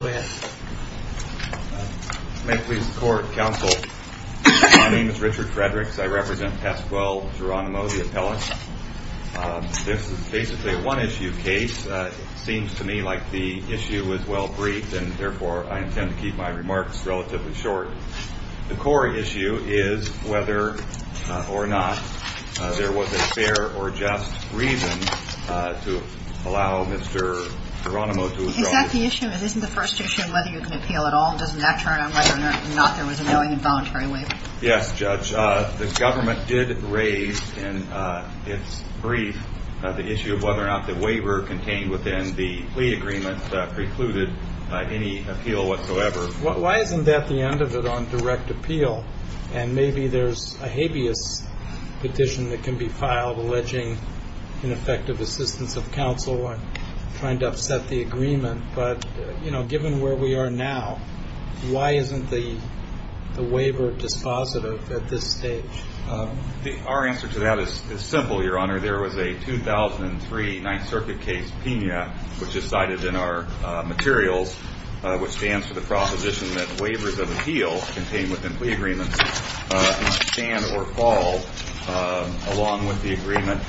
This is a one-issue case. It seems to me like the issue is well-briefed, and therefore I intend to keep my remarks relatively short. The core issue is whether or not there was a fair or just reason to allow Mr. Jeronimo to withdraw his case. Is that the issue? Isn't the first issue whether you can appeal at all? Doesn't that turn on whether or not there was a knowing and voluntary waiver? Yes, Judge. The government did raise in its brief the issue of whether or not the waiver contained within the plea agreement precluded any appeal whatsoever. Why isn't that the end of it on direct appeal? And maybe there's a habeas petition that can be filed alleging ineffective assistance of counsel or trying to upset the agreement. But, you know, given where we are now, why isn't the waiver dispositive at this stage? Our answer to that is simple, Your Honor. There was a 2003 Ninth Circuit case, Pena, which is cited in our materials, which stands for the proposition that waivers of appeal contained within plea agreements must stand or fall along with the agreement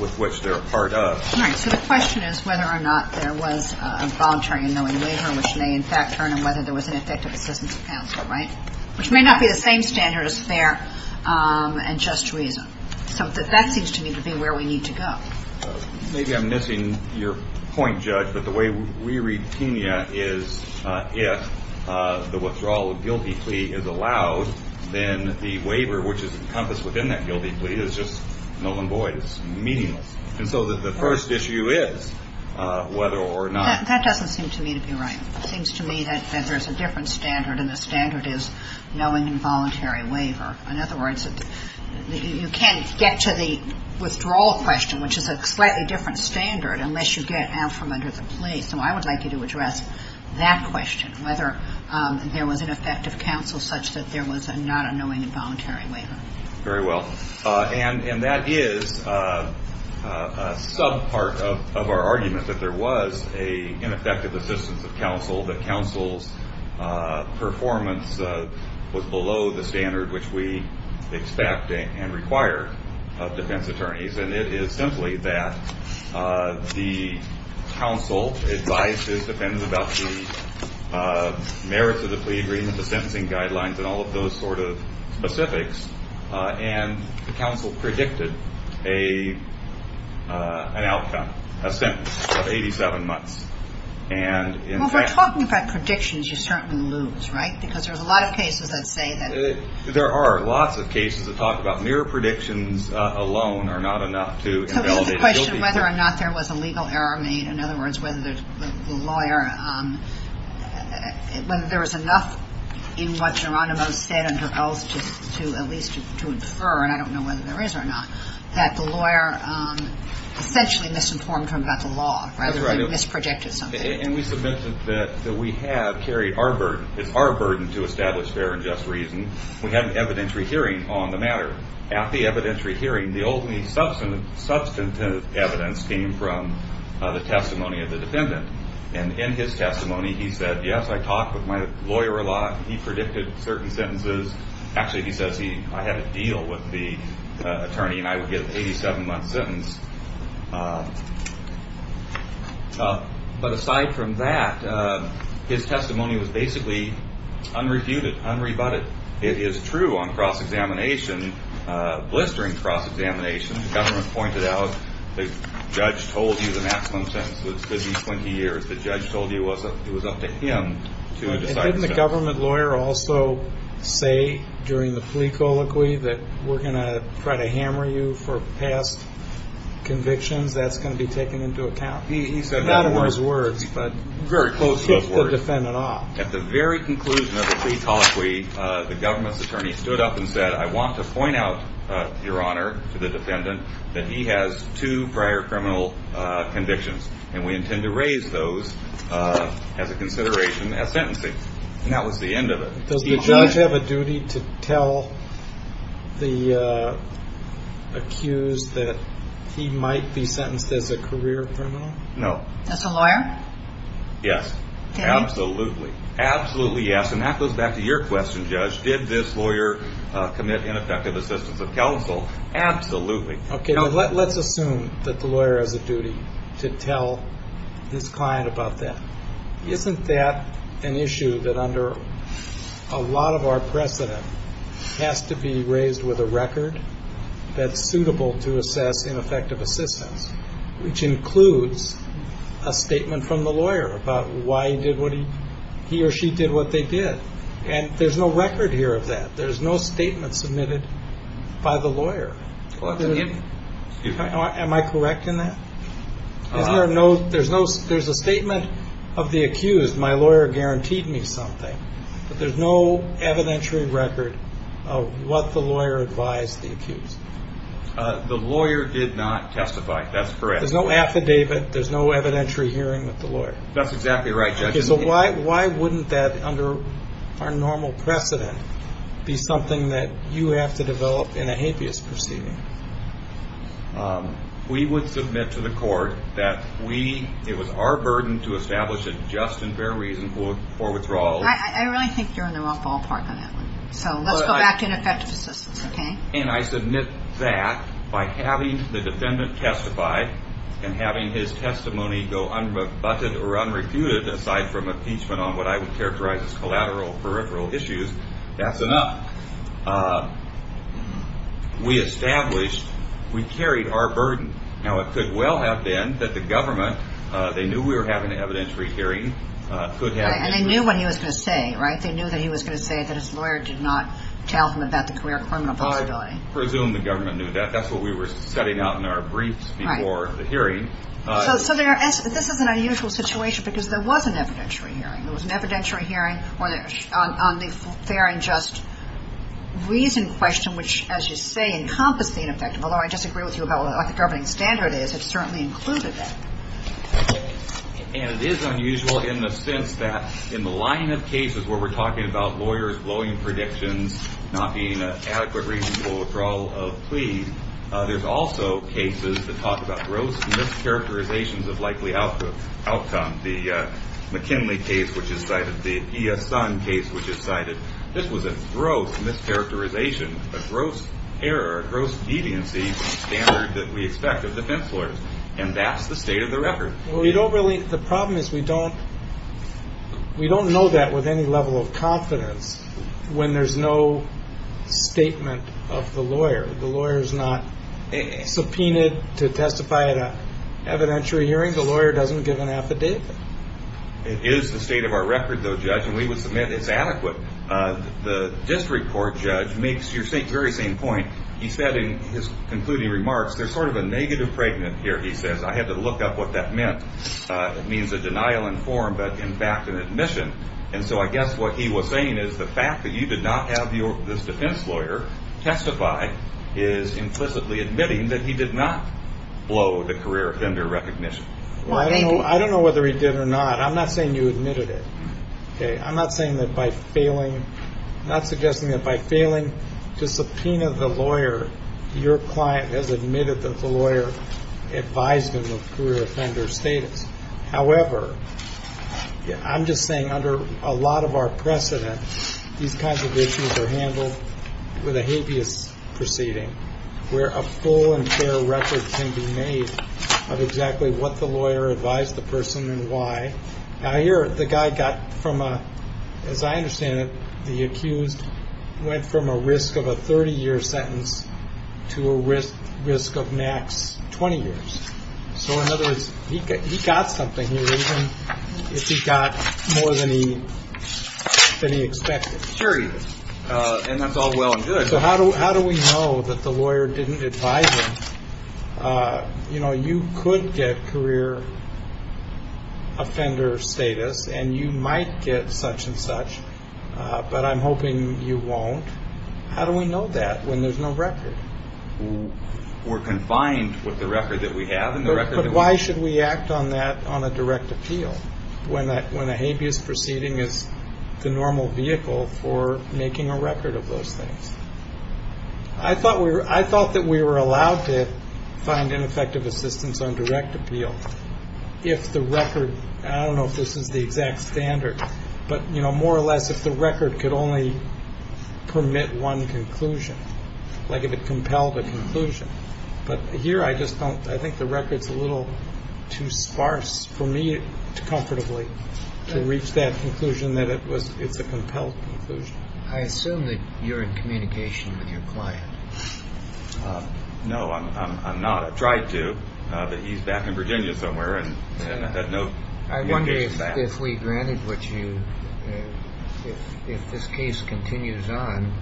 with which they're a part of. All right. So the question is whether or not there was a voluntary and knowing waiver, which may in fact turn on whether there was an effective assistance of counsel, right? Which may not be the same standard as fair and just reason. So that seems to me to be where we need to go. Maybe I'm missing your point, Judge, but the way we read Pena is if the withdrawal of guilty plea is allowed, then the waiver, which is encompassed within that guilty plea, is just null and void. It's meaningless. And so the first issue is whether or not. That doesn't seem to me to be right. It seems to me that there's a different standard, and the standard is knowing involuntary waiver. In other words, you can't get to the withdrawal question, which is a slightly different standard, unless you get out from under the plea. So I would like you to address that question, whether there was an effective counsel such that there was not a knowing involuntary waiver. Very well. And that is a sub-part of our argument, that there was an effective assistance of counsel, that counsel's performance was below the standard which we expect and require of defense attorneys. And it is simply that the counsel advises defendants about the merits of the plea agreement, the sentencing guidelines, and all of those sort of specifics. And the counsel predicted an outcome, a sentence of 87 months. Well, if we're talking about predictions, you certainly lose, right? Because there's a lot of cases that say that. There are lots of cases that talk about mere predictions alone are not enough to invalidate a guilty case. So the question of whether or not there was a legal error made, in other words, whether the lawyer, whether there was enough in what Geronimo said under oath to at least to infer, and I don't know whether there is or not, that the lawyer essentially misinformed him about the law rather than misprojected something. And we mentioned that we have carried our burden. It's our burden to establish fair and just reason. We had an evidentiary hearing on the matter. At the evidentiary hearing, the only substantive evidence came from the testimony of the defendant. And in his testimony, he said, yes, I talked with my lawyer a lot. He predicted certain sentences. Actually, he says I had a deal with the attorney and I would get an 87-month sentence. But aside from that, his testimony was basically unreviewed, unrebutted. It is true on cross-examination, blistering cross-examination. The government pointed out the judge told you the maximum sentence would be 20 years. The judge told you it was up to him to decide. Didn't the government lawyer also say during the plea colloquy that we're going to try to hammer you for past convictions? That's going to be taken into account? Not in those words, but very close to those words. At the very conclusion of the plea colloquy, the government's attorney stood up and said, I want to point out, Your Honor, to the defendant that he has two prior criminal convictions, and we intend to raise those as a consideration as sentencing. And that was the end of it. Does the judge have a duty to tell the accused that he might be sentenced as a career criminal? No. As a lawyer? Yes, absolutely. Absolutely, yes. And that goes back to your question, Judge. Did this lawyer commit ineffective assistance of counsel? Absolutely. Let's assume that the lawyer has a duty to tell his client about that. Isn't that an issue that under a lot of our precedent has to be raised with a record that's suitable to assess ineffective assistance, which includes a statement from the lawyer about why he or she did what they did? And there's no record here of that. There's no statement submitted by the lawyer. Am I correct in that? There's a statement of the accused. My lawyer guaranteed me something. But there's no evidentiary record of what the lawyer advised the accused. The lawyer did not testify. That's correct. There's no affidavit. There's no evidentiary hearing with the lawyer. That's exactly right, Judge. Okay, so why wouldn't that, under our normal precedent, be something that you have to develop in a hapeas proceeding? We would submit to the court that it was our burden to establish a just and fair reason for withdrawal. I really think you're in the wrong ballpark on that one. So let's go back to ineffective assistance, okay? And I submit that by having the defendant testify and having his testimony go unrebutted or unrefuted, aside from impeachment on what I would characterize as collateral peripheral issues, that's enough. We established we carried our burden. Now, it could well have been that the government, they knew we were having an evidentiary hearing. And they knew what he was going to say, right? They knew that he was going to say that his lawyer did not tell him about the career criminal possibility. I presume the government knew that. That's what we were setting out in our briefs before the hearing. So this is an unusual situation because there was an evidentiary hearing. There was an evidentiary hearing on the fair and just reason question, which, as you say, encompassed the ineffective. Although I disagree with you about what the governing standard is, it certainly included that. And it is unusual in the sense that in the line of cases where we're talking about lawyers blowing predictions, not being an adequate reason for withdrawal of plea, there's also cases that talk about gross mischaracterizations of likely outcome. The McKinley case, which is cited, the E.S. Sun case, which is cited. This was a gross mischaracterization, a gross error, a gross deviancy standard that we expect of defense lawyers. And that's the state of the record. Well, you don't really. The problem is we don't we don't know that with any level of confidence when there's no statement of the lawyer. The lawyer is not subpoenaed to testify at an evidentiary hearing. The lawyer doesn't give an affidavit. It is the state of our record, though, judge. And we would submit it's adequate. The district court judge makes your very same point. He said in his concluding remarks, there's sort of a negative pregnant here, he says. I had to look up what that meant. It means a denial in form, but in fact, an admission. And so I guess what he was saying is the fact that you did not have this defense lawyer testify is implicitly admitting that he did not blow the career offender recognition. Well, I don't know. I don't know whether he did or not. I'm not saying you admitted it. I'm not saying that by failing, not suggesting that by failing to subpoena the lawyer, your client has admitted that the lawyer advised him of career offender status. However, I'm just saying under a lot of our precedent, these kinds of issues are handled with a habeas proceeding where a full and fair record can be made of exactly what the lawyer advised the person and why. I hear the guy got from, as I understand it, the accused went from a risk of a 30 year sentence to a risk risk of max 20 years. So in other words, he got something here, even if he got more than he expected. Sure. And that's all well and good. So how do how do we know that the lawyer didn't advise him? You know, you could get career offender status and you might get such and such, but I'm hoping you won't. How do we know that when there's no record? We're confined with the record that we have in the record. But why should we act on that on a direct appeal when that when a habeas proceeding is the normal vehicle for making a record of those things? I thought we were I thought that we were allowed to find ineffective assistance on direct appeal if the record. I don't know if this is the exact standard, but, you know, more or less if the record could only permit one conclusion, like if it compelled a conclusion. But here I just don't I think the record's a little too sparse for me to comfortably to reach that conclusion that it was it's a compelled conclusion. I assume that you're in communication with your client. No, I'm not. I've tried to, but he's back in Virginia somewhere. And no, I wonder if we granted what you if this case continues on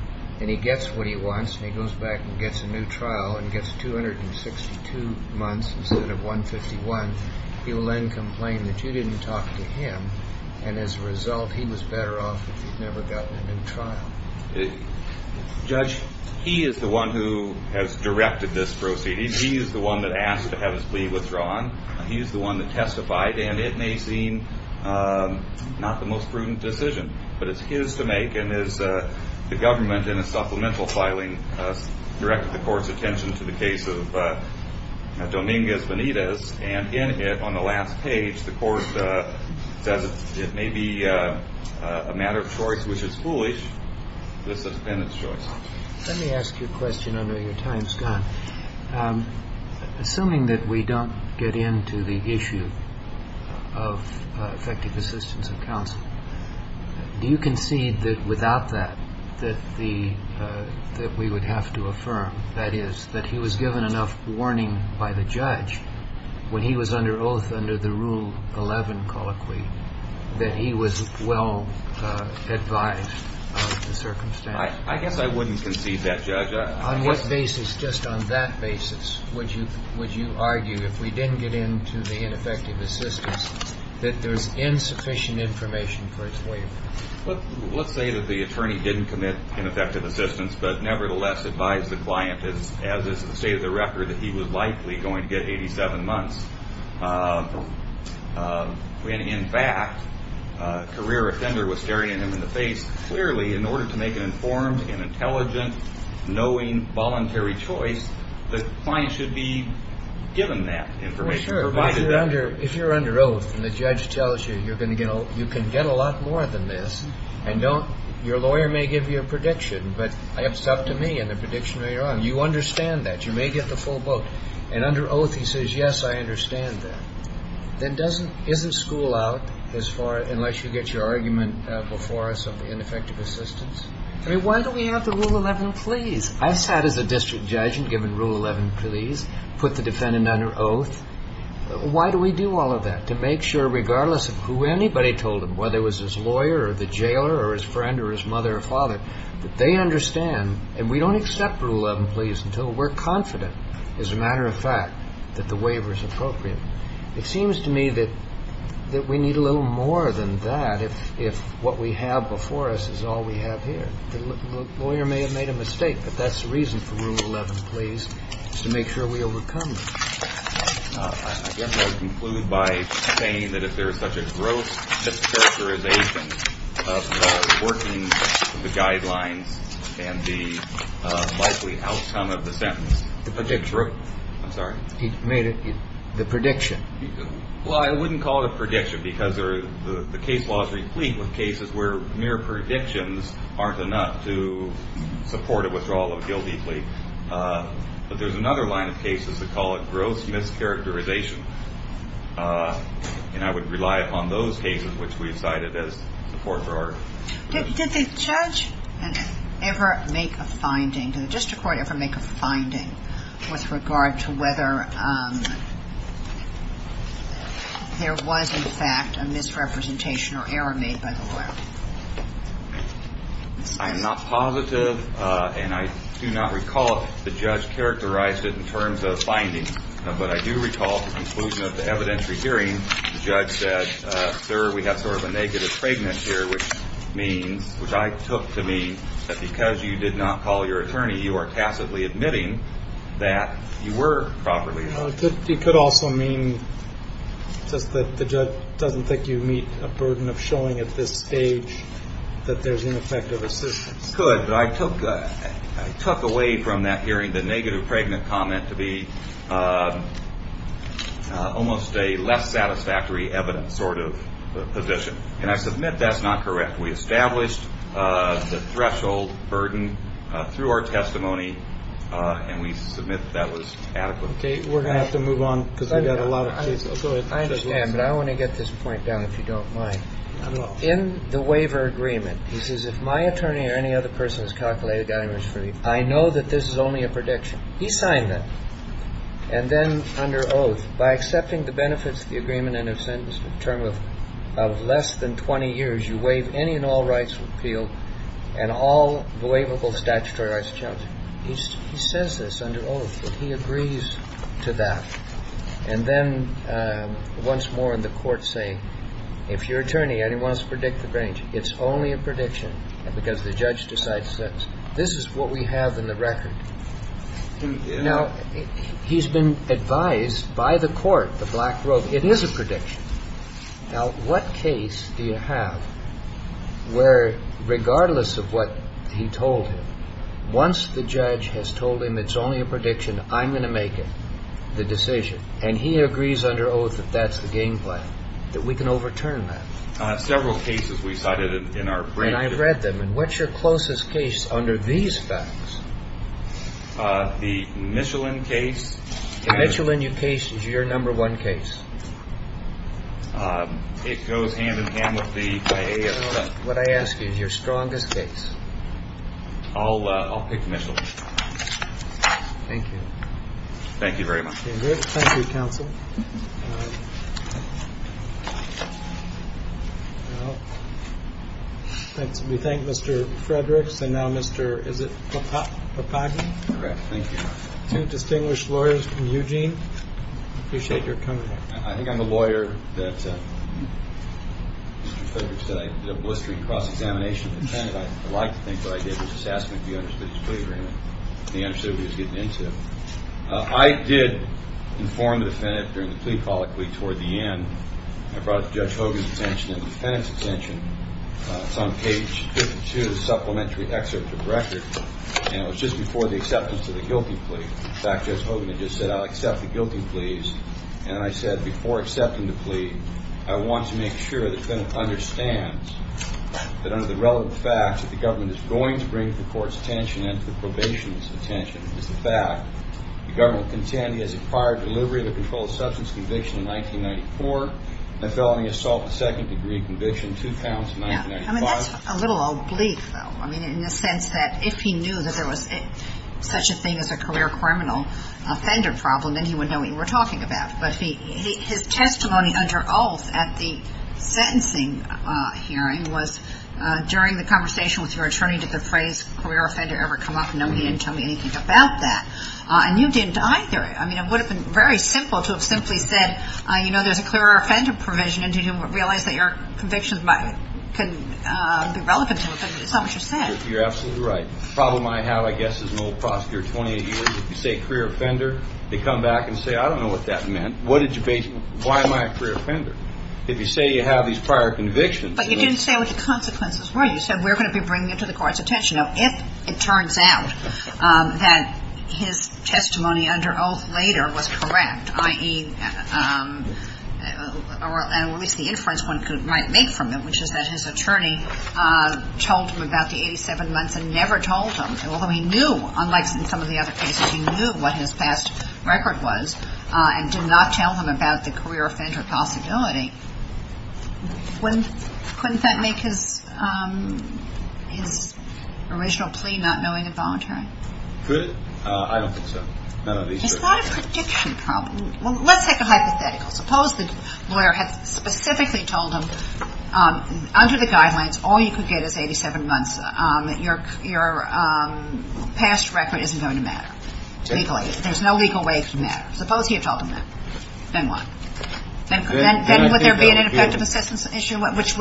and he gets what he wants and he goes back and gets a new trial and gets 262 months instead of 151. He will then complain that you didn't talk to him. And as a result, he was better off if he'd never gotten a new trial. Judge, he is the one who has directed this proceeding. He is the one that asked to have his plea withdrawn. He is the one that testified. And it may seem not the most prudent decision, but it's his to make. The government in a supplemental filing directed the court's attention to the case of Dominguez Benitez. And in it, on the last page, the court says it may be a matter of choice, which is foolish. This has been its choice. Let me ask you a question under your time, Scott. Assuming that we don't get into the issue of effective assistance of counsel. Do you concede that without that, that the that we would have to affirm that is that he was given enough warning by the judge when he was under oath under the rule 11 colloquy that he was well advised. I guess I wouldn't concede that, Judge. On what basis? Just on that basis. Would you would you argue if we didn't get into the ineffective assistance that there's insufficient information for its waiver? Let's say that the attorney didn't commit ineffective assistance, but nevertheless advised the client, as is the state of the record, that he was likely going to get 87 months. When, in fact, a career offender was staring him in the face clearly in order to make an informed and intelligent, knowing, voluntary choice, the client should be given that information. Provided under if you're under oath and the judge tells you you're going to get you can get a lot more than this. And don't your lawyer may give you a prediction. But it's up to me and the prediction. You understand that you may get the full boat. And under oath, he says, yes, I understand that. That doesn't isn't school out as far unless you get your argument before us of the ineffective assistance. I mean, why don't we have the rule 11, please? I sat as a district judge and given rule 11, please put the defendant under oath. Why do we do all of that? To make sure regardless of who anybody told him, whether it was his lawyer or the jailer or his friend or his mother or father, that they understand. And we don't accept rule 11, please, until we're confident, as a matter of fact, that the waiver is appropriate. It seems to me that that we need a little more than that. If if what we have before us is all we have here, the lawyer may have made a mistake. But that's the reason for rule 11, please. To make sure we overcome. I guess I conclude by saying that if there is such a gross mischaracterization of working the guidelines and the likely outcome of the sentence. The predictor. I'm sorry. He made it the prediction. Well, I wouldn't call it a prediction because there are the case laws replete with cases where mere predictions aren't enough to support a withdrawal of guilty plea. But there's another line of cases that call it gross mischaracterization. And I would rely upon those cases which we cited as support for our judge ever make a finding to the district court ever make a finding with regard to whether there was, in fact, a misrepresentation or error made by the lawyer. I am not positive and I do not recall the judge characterized it in terms of finding. But I do recall the conclusion of the evidentiary hearing. Judge said, sir, we have sort of a negative pregnancy here, which means which I took to me that because you did not call your attorney, you are tacitly admitting that you were properly. You could also mean just that the judge doesn't think you meet a burden of showing at this stage that there's an effect of assistance. Good. But I took I took away from that hearing the negative pregnant comment to be almost a less satisfactory evidence sort of position. And I submit that's not correct. We established the threshold burden through our testimony and we submit that was adequate. OK, we're going to have to move on because we've got a lot of I understand. But I want to get this point down, if you don't mind. In the waiver agreement, he says, if my attorney or any other person is calculated, I was free. I know that this is only a prediction. He signed that. And then under oath, by accepting the benefits of the agreement and a sentence term of less than 20 years, you waive any and all rights appeal and all believable statutory rights. He says this under oath. He agrees to that. And then once more in the court say, if your attorney and he wants to predict the range, it's only a prediction because the judge decides that this is what we have in the record. Now, he's been advised by the court, the black rope. It is a prediction. Now, what case do you have where regardless of what he told him, once the judge has told him it's only a prediction, I'm going to make the decision and he agrees under oath that that's the game plan, that we can overturn that. Several cases we cited in our. And I've read them. And what's your closest case under these facts? The Michelin case. Michelin case is your number one case. It goes hand in hand with the. What I ask is your strongest case. I'll I'll pick Michelin. Thank you. Thank you very much. Thank you, counsel. We thank Mr. Fredericks. And now, Mr. Is it a partner? Thank you. Two distinguished lawyers from Eugene. Appreciate your coming. I think I'm a lawyer. That's a blistering cross-examination. And I like to think what I did was just ask me if you understood his plea agreement. He understood what he was getting into. I did inform the defendant during the plea colloquy. Toward the end, I brought up Judge Hogan's intention and the defendant's intention. It's on page two, the supplementary excerpt from the record. And it was just before the acceptance of the guilty plea. In fact, Judge Hogan just said, I'll accept the guilty pleas. And I said before accepting the plea, I want to make sure the defendant understands that under the relevant facts, that the government is going to bring the court's attention and the probation's attention. It's the fact the government contend he has acquired delivery of a controlled substance conviction in 1994. The felony assault, a second degree conviction, two counts in 1995. I mean, that's a little oblique, though. I mean, in the sense that if he knew that there was such a thing as a career criminal offender problem, then he wouldn't know what you were talking about. But his testimony under oath at the sentencing hearing was, during the conversation with your attorney, did the phrase career offender ever come up? No, he didn't tell me anything about that. And you didn't either. I mean, it would have been very simple to have simply said, you know, there's a career offender provision. And he didn't realize that your convictions might be relevant to what you said. You're absolutely right. The problem I have, I guess, is an old prosecutor. If you say career offender, they come back and say, I don't know what that meant. Why am I a career offender? If you say you have these prior convictions. But you didn't say what the consequences were. You said we're going to be bringing it to the court's attention. Now, if it turns out that his testimony under oath later was correct, i.e., or at least the inference one might make from it, which is that his attorney told him about the 87 months and never told him, although he knew, unlike in some of the other cases, he knew what his past record was and did not tell him about the career offender possibility, couldn't that make his original plea not knowing involuntary? Could it? I don't think so. None of these are. It's not a prediction problem. Well, let's take a hypothetical. Suppose the lawyer had specifically told him under the guidelines all you could get is 87 months. Your past record isn't going to matter. There's no legal way it can matter. Suppose he had told him that. Then what? Then would there be an ineffective assistance issue, which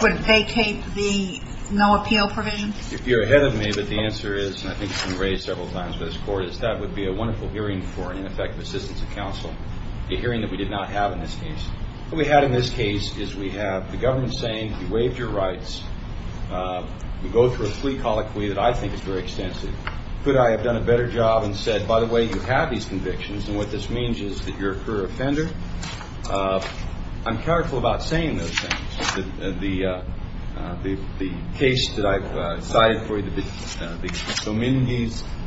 would vacate the no appeal provision? If you're ahead of me, but the answer is, and I think it's been raised several times by this Court, is that would be a wonderful hearing for an ineffective assistance of counsel, a hearing that we did not have in this case. What we had in this case is we have the government saying you waived your rights. We go through a plea colloquy that I think is very extensive. Could I have done a better job and said, by the way, you have these convictions? And what this means is that you're a career offender. I'm careful about saying those things. The case that I've cited for you, the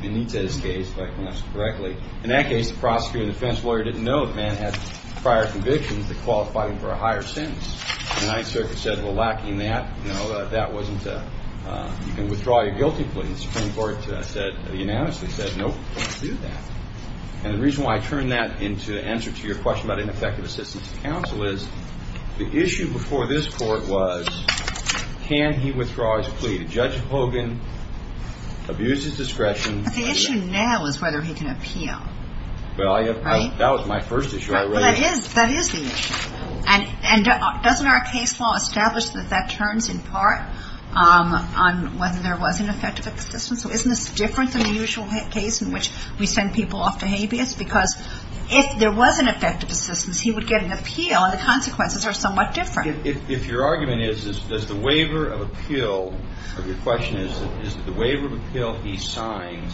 Benitez case, if I pronounce it correctly, in that case the prosecutor and defense lawyer didn't know the man had prior convictions that qualified him for a higher sentence. The Ninth Circuit said, well, lacking that, you know, that wasn't a, you can withdraw your guilty plea. The Supreme Court said, unanimously said, nope, don't do that. And the reason why I turn that into an answer to your question about ineffective assistance of counsel is the issue before this Court was, can he withdraw his plea to Judge Hogan, abuse his discretion? But the issue now is whether he can appeal. Well, that was my first issue I raised. But that is the issue. And doesn't our case law establish that that turns in part on whether there was an effective assistance? So isn't this different than the usual case in which we send people off to habeas? Because if there was an effective assistance, he would get an appeal, and the consequences are somewhat different. If your argument is, does the waiver of appeal, or your question is, is the waiver of appeal he signed,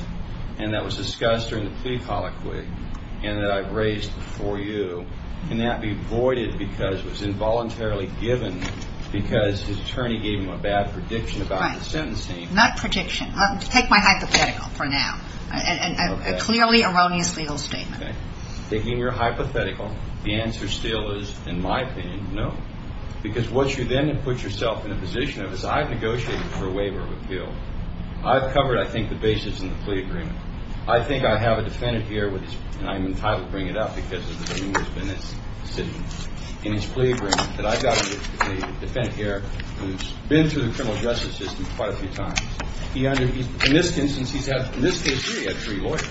and that was discussed during the plea colloquy, and that I've raised before you, can that be voided because it was involuntarily given because his attorney gave him a bad prediction about his sentencing? Not prediction. Take my hypothetical for now. A clearly erroneous legal statement. Okay. Taking your hypothetical, the answer still is, in my opinion, no. Because what you then have put yourself in a position of is I've negotiated for a waiver of appeal. I've covered, I think, the basis in the plea agreement. I think I have a defendant here, and I'm entitled to bring it up because of the numerous defendants sitting in this plea agreement, that I've got a defendant here who's been through the criminal justice system quite a few times. In this instance, he's had, in this case, three lawyers.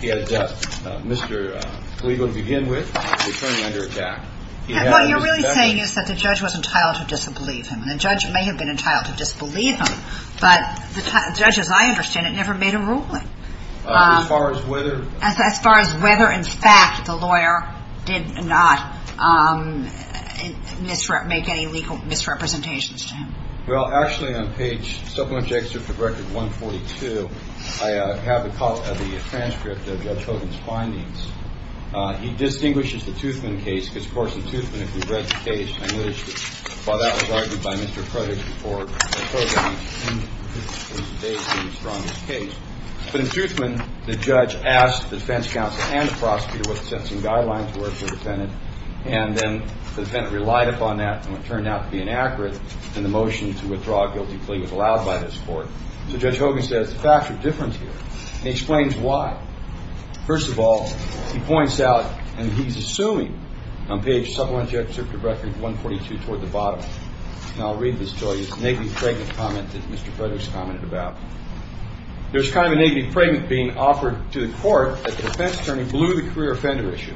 He had a death. Mr. Kliegel, to begin with, returned under attack. What you're really saying is that the judge was entitled to disbelieve him, and the judge may have been entitled to disbelieve him, but the judge, as I understand it, never made a ruling. As far as whether. As far as whether, in fact, the lawyer did not make any legal misrepresentations to him. Well, actually, on page, Supplementary Excerpt of Record 142, I have the transcript of Judge Hogan's findings. He distinguishes the Toothman case because, of course, in Toothman, if you've read the case, I wish that that was argued by Mr. Cruttick before the case. But in Toothman, the judge asked the defense counsel and the prosecutor what the sentencing guidelines were for the defendant, and then the defendant relied upon that, and it turned out to be inaccurate. And the motion to withdraw a guilty plea was allowed by this court. So Judge Hogan says the facts are different here, and he explains why. First of all, he points out, and he's assuming, on page, Supplementary Excerpt of Record 142, toward the bottom. And I'll read this to you. It's a negative comment that Mr. Cruttick's commented about. There's kind of a negative comment being offered to the court that the defense attorney blew the career offender issue.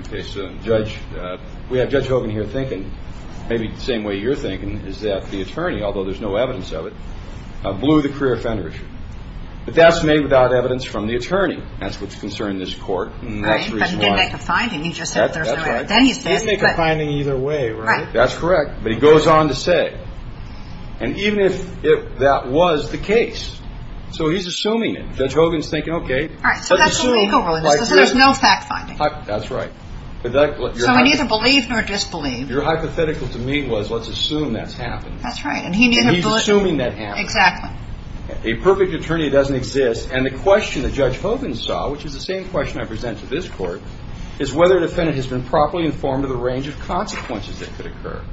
Okay, so, Judge, we have Judge Hogan here thinking maybe the same way you're thinking, is that the attorney, although there's no evidence of it, blew the career offender issue. But that's made without evidence from the attorney. That's what's concerning this court, and that's the reason why. Right, but he didn't make a finding. He just said there's no evidence. That's right. He didn't make a finding either way, right? That's correct. But he goes on to say, and even if that was the case, so he's assuming it. Judge Hogan's thinking, okay, let's assume. There's no fact finding. That's right. So he neither believed nor disbelieved. Your hypothetical to me was let's assume that's happened. That's right. He's assuming that happened. Exactly. A perfect attorney doesn't exist. And the question that Judge Hogan saw, which is the same question I present to this court, is whether a defendant has been properly informed of the range of consequences that could occur.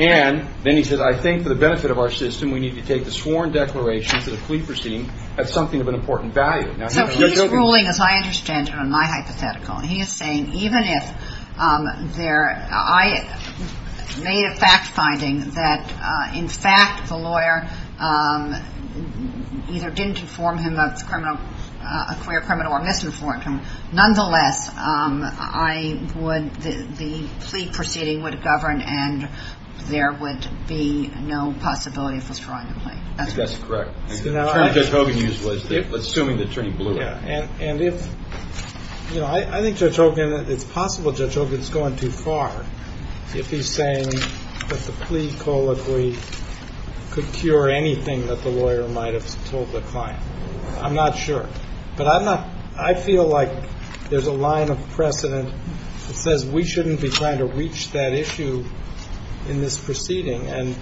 And then he says, I think for the benefit of our system, we need to take the sworn declaration for the plea proceeding as something of an important value. So he's ruling, as I understand it on my hypothetical, and he is saying even if I made a fact finding that, in fact, the lawyer either didn't inform him of a queer criminal or misinformed him, nonetheless, the plea proceeding would have governed and there would be no possibility of withdrawing the plea. That's correct. The term Judge Hogan used was assuming the attorney blew it. Yeah. And if, you know, I think Judge Hogan, it's possible Judge Hogan is going too far if he's saying that the plea colloquy could cure anything that the lawyer might have told the client. I'm not sure. But I feel like there's a line of precedent that says we shouldn't be trying to reach that issue in this proceeding. And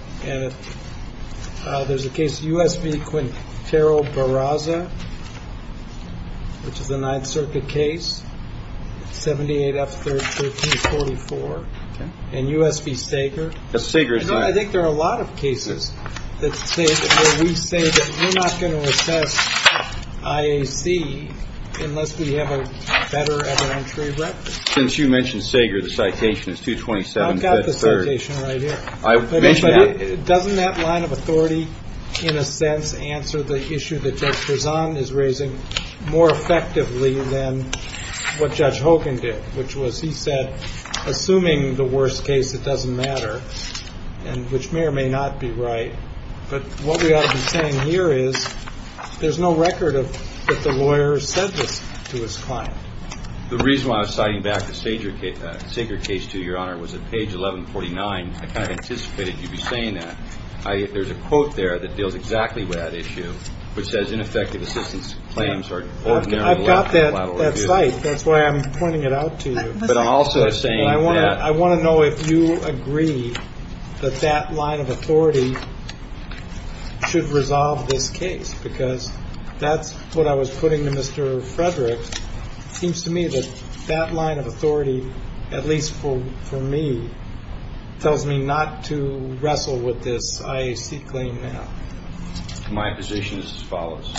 there's a case, U.S. v. Quintero Barraza, which is a Ninth Circuit case, 78 F. 1344. And U.S. v. Sager. I think there are a lot of cases where we say that we're not going to assess IAC unless we have a better evidentiary record. Since you mentioned Sager, the citation is 227. I've got the citation right here. Doesn't that line of authority, in a sense, answer the issue that Judge Prezan is raising more effectively than what Judge Hogan did, which was he said, assuming the worst case, it doesn't matter, which may or may not be right. But what we ought to be saying here is there's no record that the lawyer said this to his client. The reason why I was citing back the Sager case to you, Your Honor, was at page 1149. I kind of anticipated you'd be saying that. There's a quote there that deals exactly with that issue, which says, Ineffective assistance claims are ordinary lawful collateral abuse. I've got that cite. That's why I'm pointing it out to you. But I'm also saying that. I want to know if you agree that that line of authority should resolve this case, because that's what I was putting to Mr. Frederick. It seems to me that that line of authority, at least for me, tells me not to wrestle with this IAC claim now. My position is as follows.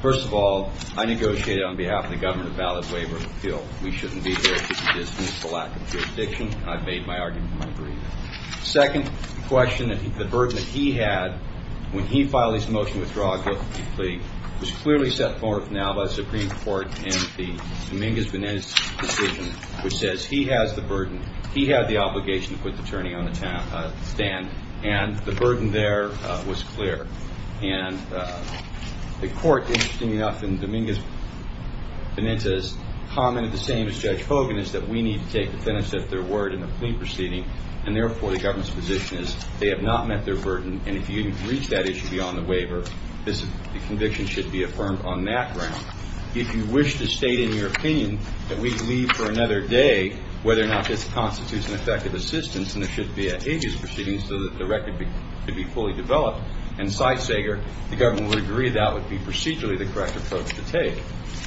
First of all, I negotiated on behalf of the government a valid waiver of appeal. We shouldn't be here to distance the lack of jurisdiction. I've made my argument in my brief. Second question, the burden that he had when he filed his motion withdrawal plea was clearly set forth now by the Supreme Court in the Dominguez-Benitez decision, which says he has the burden. He had the obligation to put the attorney on the stand, and the burden there was clear. And the court, interestingly enough, in Dominguez-Benitez commented the same as Judge Hogan, is that we need to take the tennis at their word in the plea proceeding, and therefore the government's position is they have not met their burden, and if you didn't reach that issue beyond the waiver, the conviction should be affirmed on that ground. If you wish to state in your opinion that we'd leave for another day, whether or not this constitutes an effective assistance, and there should be a habeas proceeding so that the record could be fully developed and sightseeker, the government would agree that would be procedurally the correct approach to take.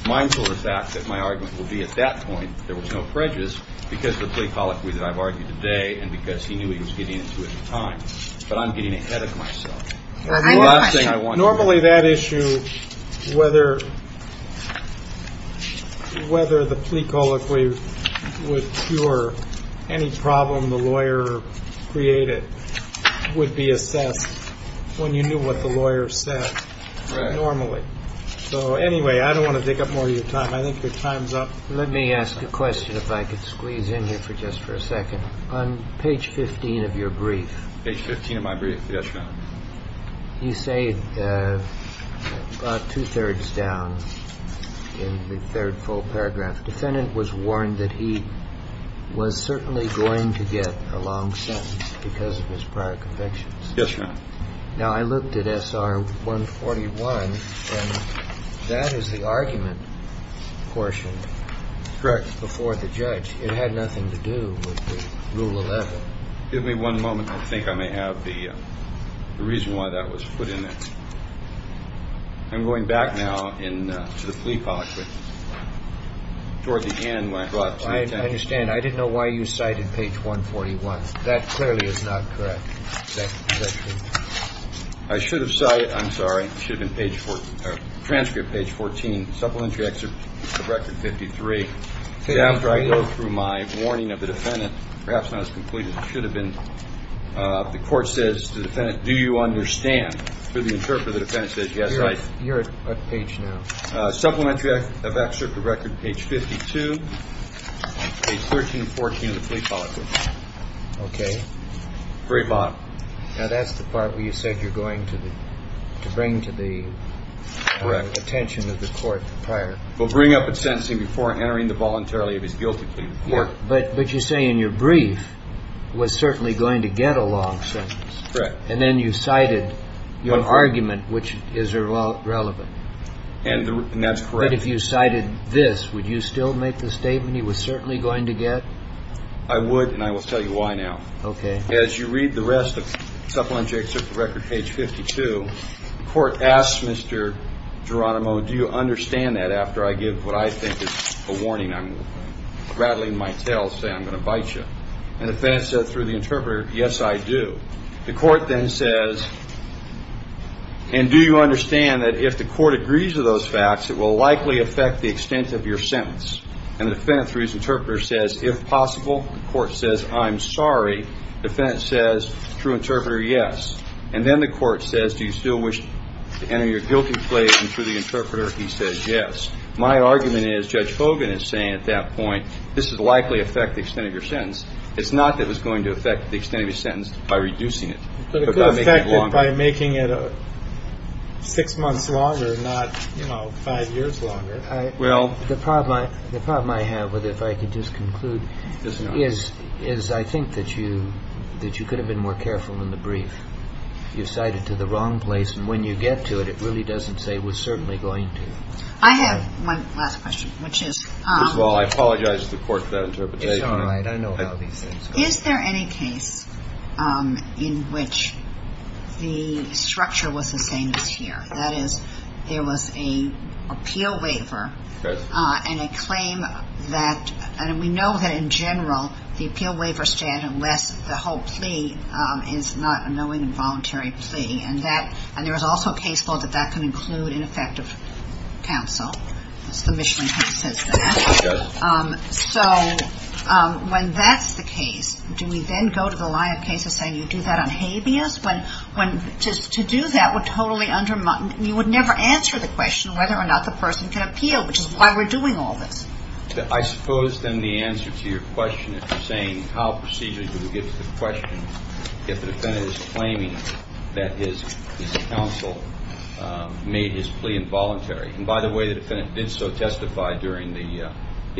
Mindful of the fact that my argument would be at that point there was no prejudice because of the plea colloquy that I've argued today and because he knew he was getting into it at the time, but I'm getting ahead of myself. Normally that issue, whether the plea colloquy would cure any problem the lawyer created, would be assessed when you knew what the lawyer said normally. So anyway, I don't want to take up more of your time. I think your time's up. Let me ask a question if I could squeeze in here for just for a second. On page 15 of your brief. Page 15 of my brief. Yes, Your Honor. You say about two-thirds down in the third full paragraph, defendant was warned that he was certainly going to get a long sentence because of his prior convictions. Yes, Your Honor. Now I looked at SR 141 and that is the argument portioned before the judge. It had nothing to do with Rule 11. Give me one moment. I think I may have the reason why that was put in there. I'm going back now to the plea colloquy. Toward the end when I brought it to your attention. I understand. I didn't know why you cited page 141. That clearly is not correct. I should have cited. I'm sorry. It should have been page 14. Transcript page 14. Supplementary excerpt of record 53. After I go through my warning of the defendant, perhaps not as complete as it should have been. The court says to the defendant, do you understand? Through the interpreter, the defendant says, yes, I. You're at page now. Supplementary of excerpt of record page 52. Page 13 and 14 of the plea colloquy. Okay. Now, that's the part where you said you're going to bring to the attention of the court prior. We'll bring up a sentencing before entering the voluntary of his guilty plea. But you say in your brief was certainly going to get a long sentence. Correct. And then you cited your argument, which is irrelevant. And that's correct. But if you cited this, would you still make the statement he was certainly going to get? I would. And I will tell you why now. Okay. As you read the rest of supplementary excerpt of record page 52, the court asks Mr. Geronimo, do you understand that after I give what I think is a warning? I'm rattling my tail saying I'm going to bite you. And the defense says through the interpreter, yes, I do. The court then says, and do you understand that if the court agrees with those facts, it will likely affect the extent of your sentence? And the defendant, through his interpreter, says, if possible, the court says, I'm sorry. The defendant says, through interpreter, yes. And then the court says, do you still wish to enter your guilty plea? And through the interpreter, he says, yes. My argument is Judge Fogan is saying at that point this would likely affect the extent of your sentence. It's not that it was going to affect the extent of your sentence by reducing it. But it could affect it by making it six months longer, not, you know, five years longer. Well, the problem I have, if I could just conclude, is I think that you could have been more careful in the brief. You cited to the wrong place. And when you get to it, it really doesn't say it was certainly going to. I have one last question, which is. First of all, I apologize to the court for that interpretation. It's all right. I know how these things are. Is there any case in which the structure was the same as here? That is, there was an appeal waiver and a claim that we know that, in general, the appeal waiver stand unless the whole plea is not a knowing and voluntary plea. And there is also a case that that can include ineffective counsel. That's the Michelin point since then. So when that's the case, do we then go to the line of cases saying you do that on habeas? To do that would totally undermine. You would never answer the question whether or not the person can appeal, which is why we're doing all this. I suppose, then, the answer to your question is saying how procedurally do we get to the question if the defendant is claiming that his counsel made his plea involuntary? And, by the way, the defendant did so testify during the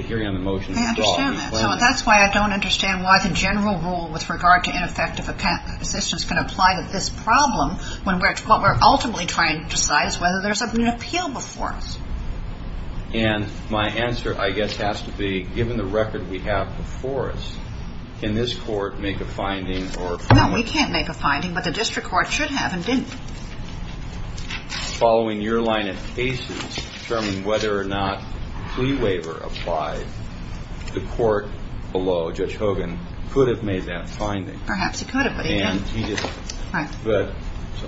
hearing on the motion. I understand that. So that's why I don't understand why the general rule with regard to ineffective assistance can apply to this problem when what we're ultimately trying to decide is whether there's an appeal before us. And my answer, I guess, has to be, given the record we have before us, can this court make a finding or a claim? No, we can't make a finding, but the district court should have and didn't. Following your line of cases, determining whether or not plea waiver applies, the court below, Judge Hogan, could have made that finding. Perhaps he could have, but he didn't. And he didn't. Right. But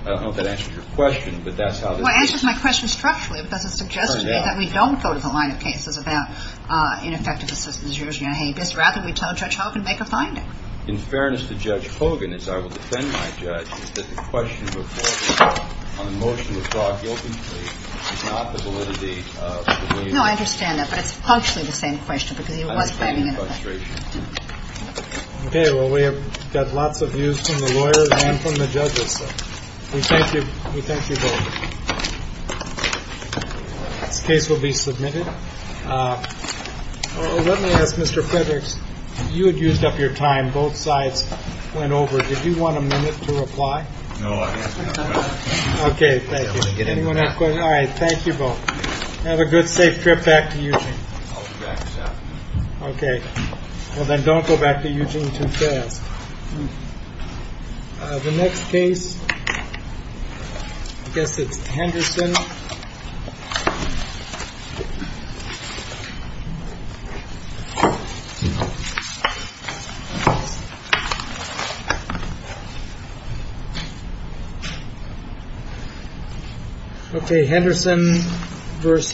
I don't know if that answers your question, but that's how this is. Well, it answers my question structurally because it suggests to me that we don't go to the line of cases about ineffective assistance usually on habeas. Rather, we tell Judge Hogan, make a finding. In fairness to Judge Hogan, as I will defend my judge, is that the question before me on the motion to draw a guilty plea is not the validity of the plea waiver. No, I understand that. But it's functionally the same question because he was claiming an offense. I understand your frustration. Okay. Well, we have got lots of views from the lawyers and from the judges. We thank you both. This case will be submitted. Let me ask, Mr. Fredericks, you had used up your time. Both sides went over. Did you want a minute to reply? No, I have enough time. Okay. Thank you. Anyone have questions? All right. Thank you both. Have a good, safe trip back to Eugene. I'll be back, sir. Okay. Well, then don't go back to Eugene too fast. The next case, I guess it's Henderson. No. Okay. Henderson versus.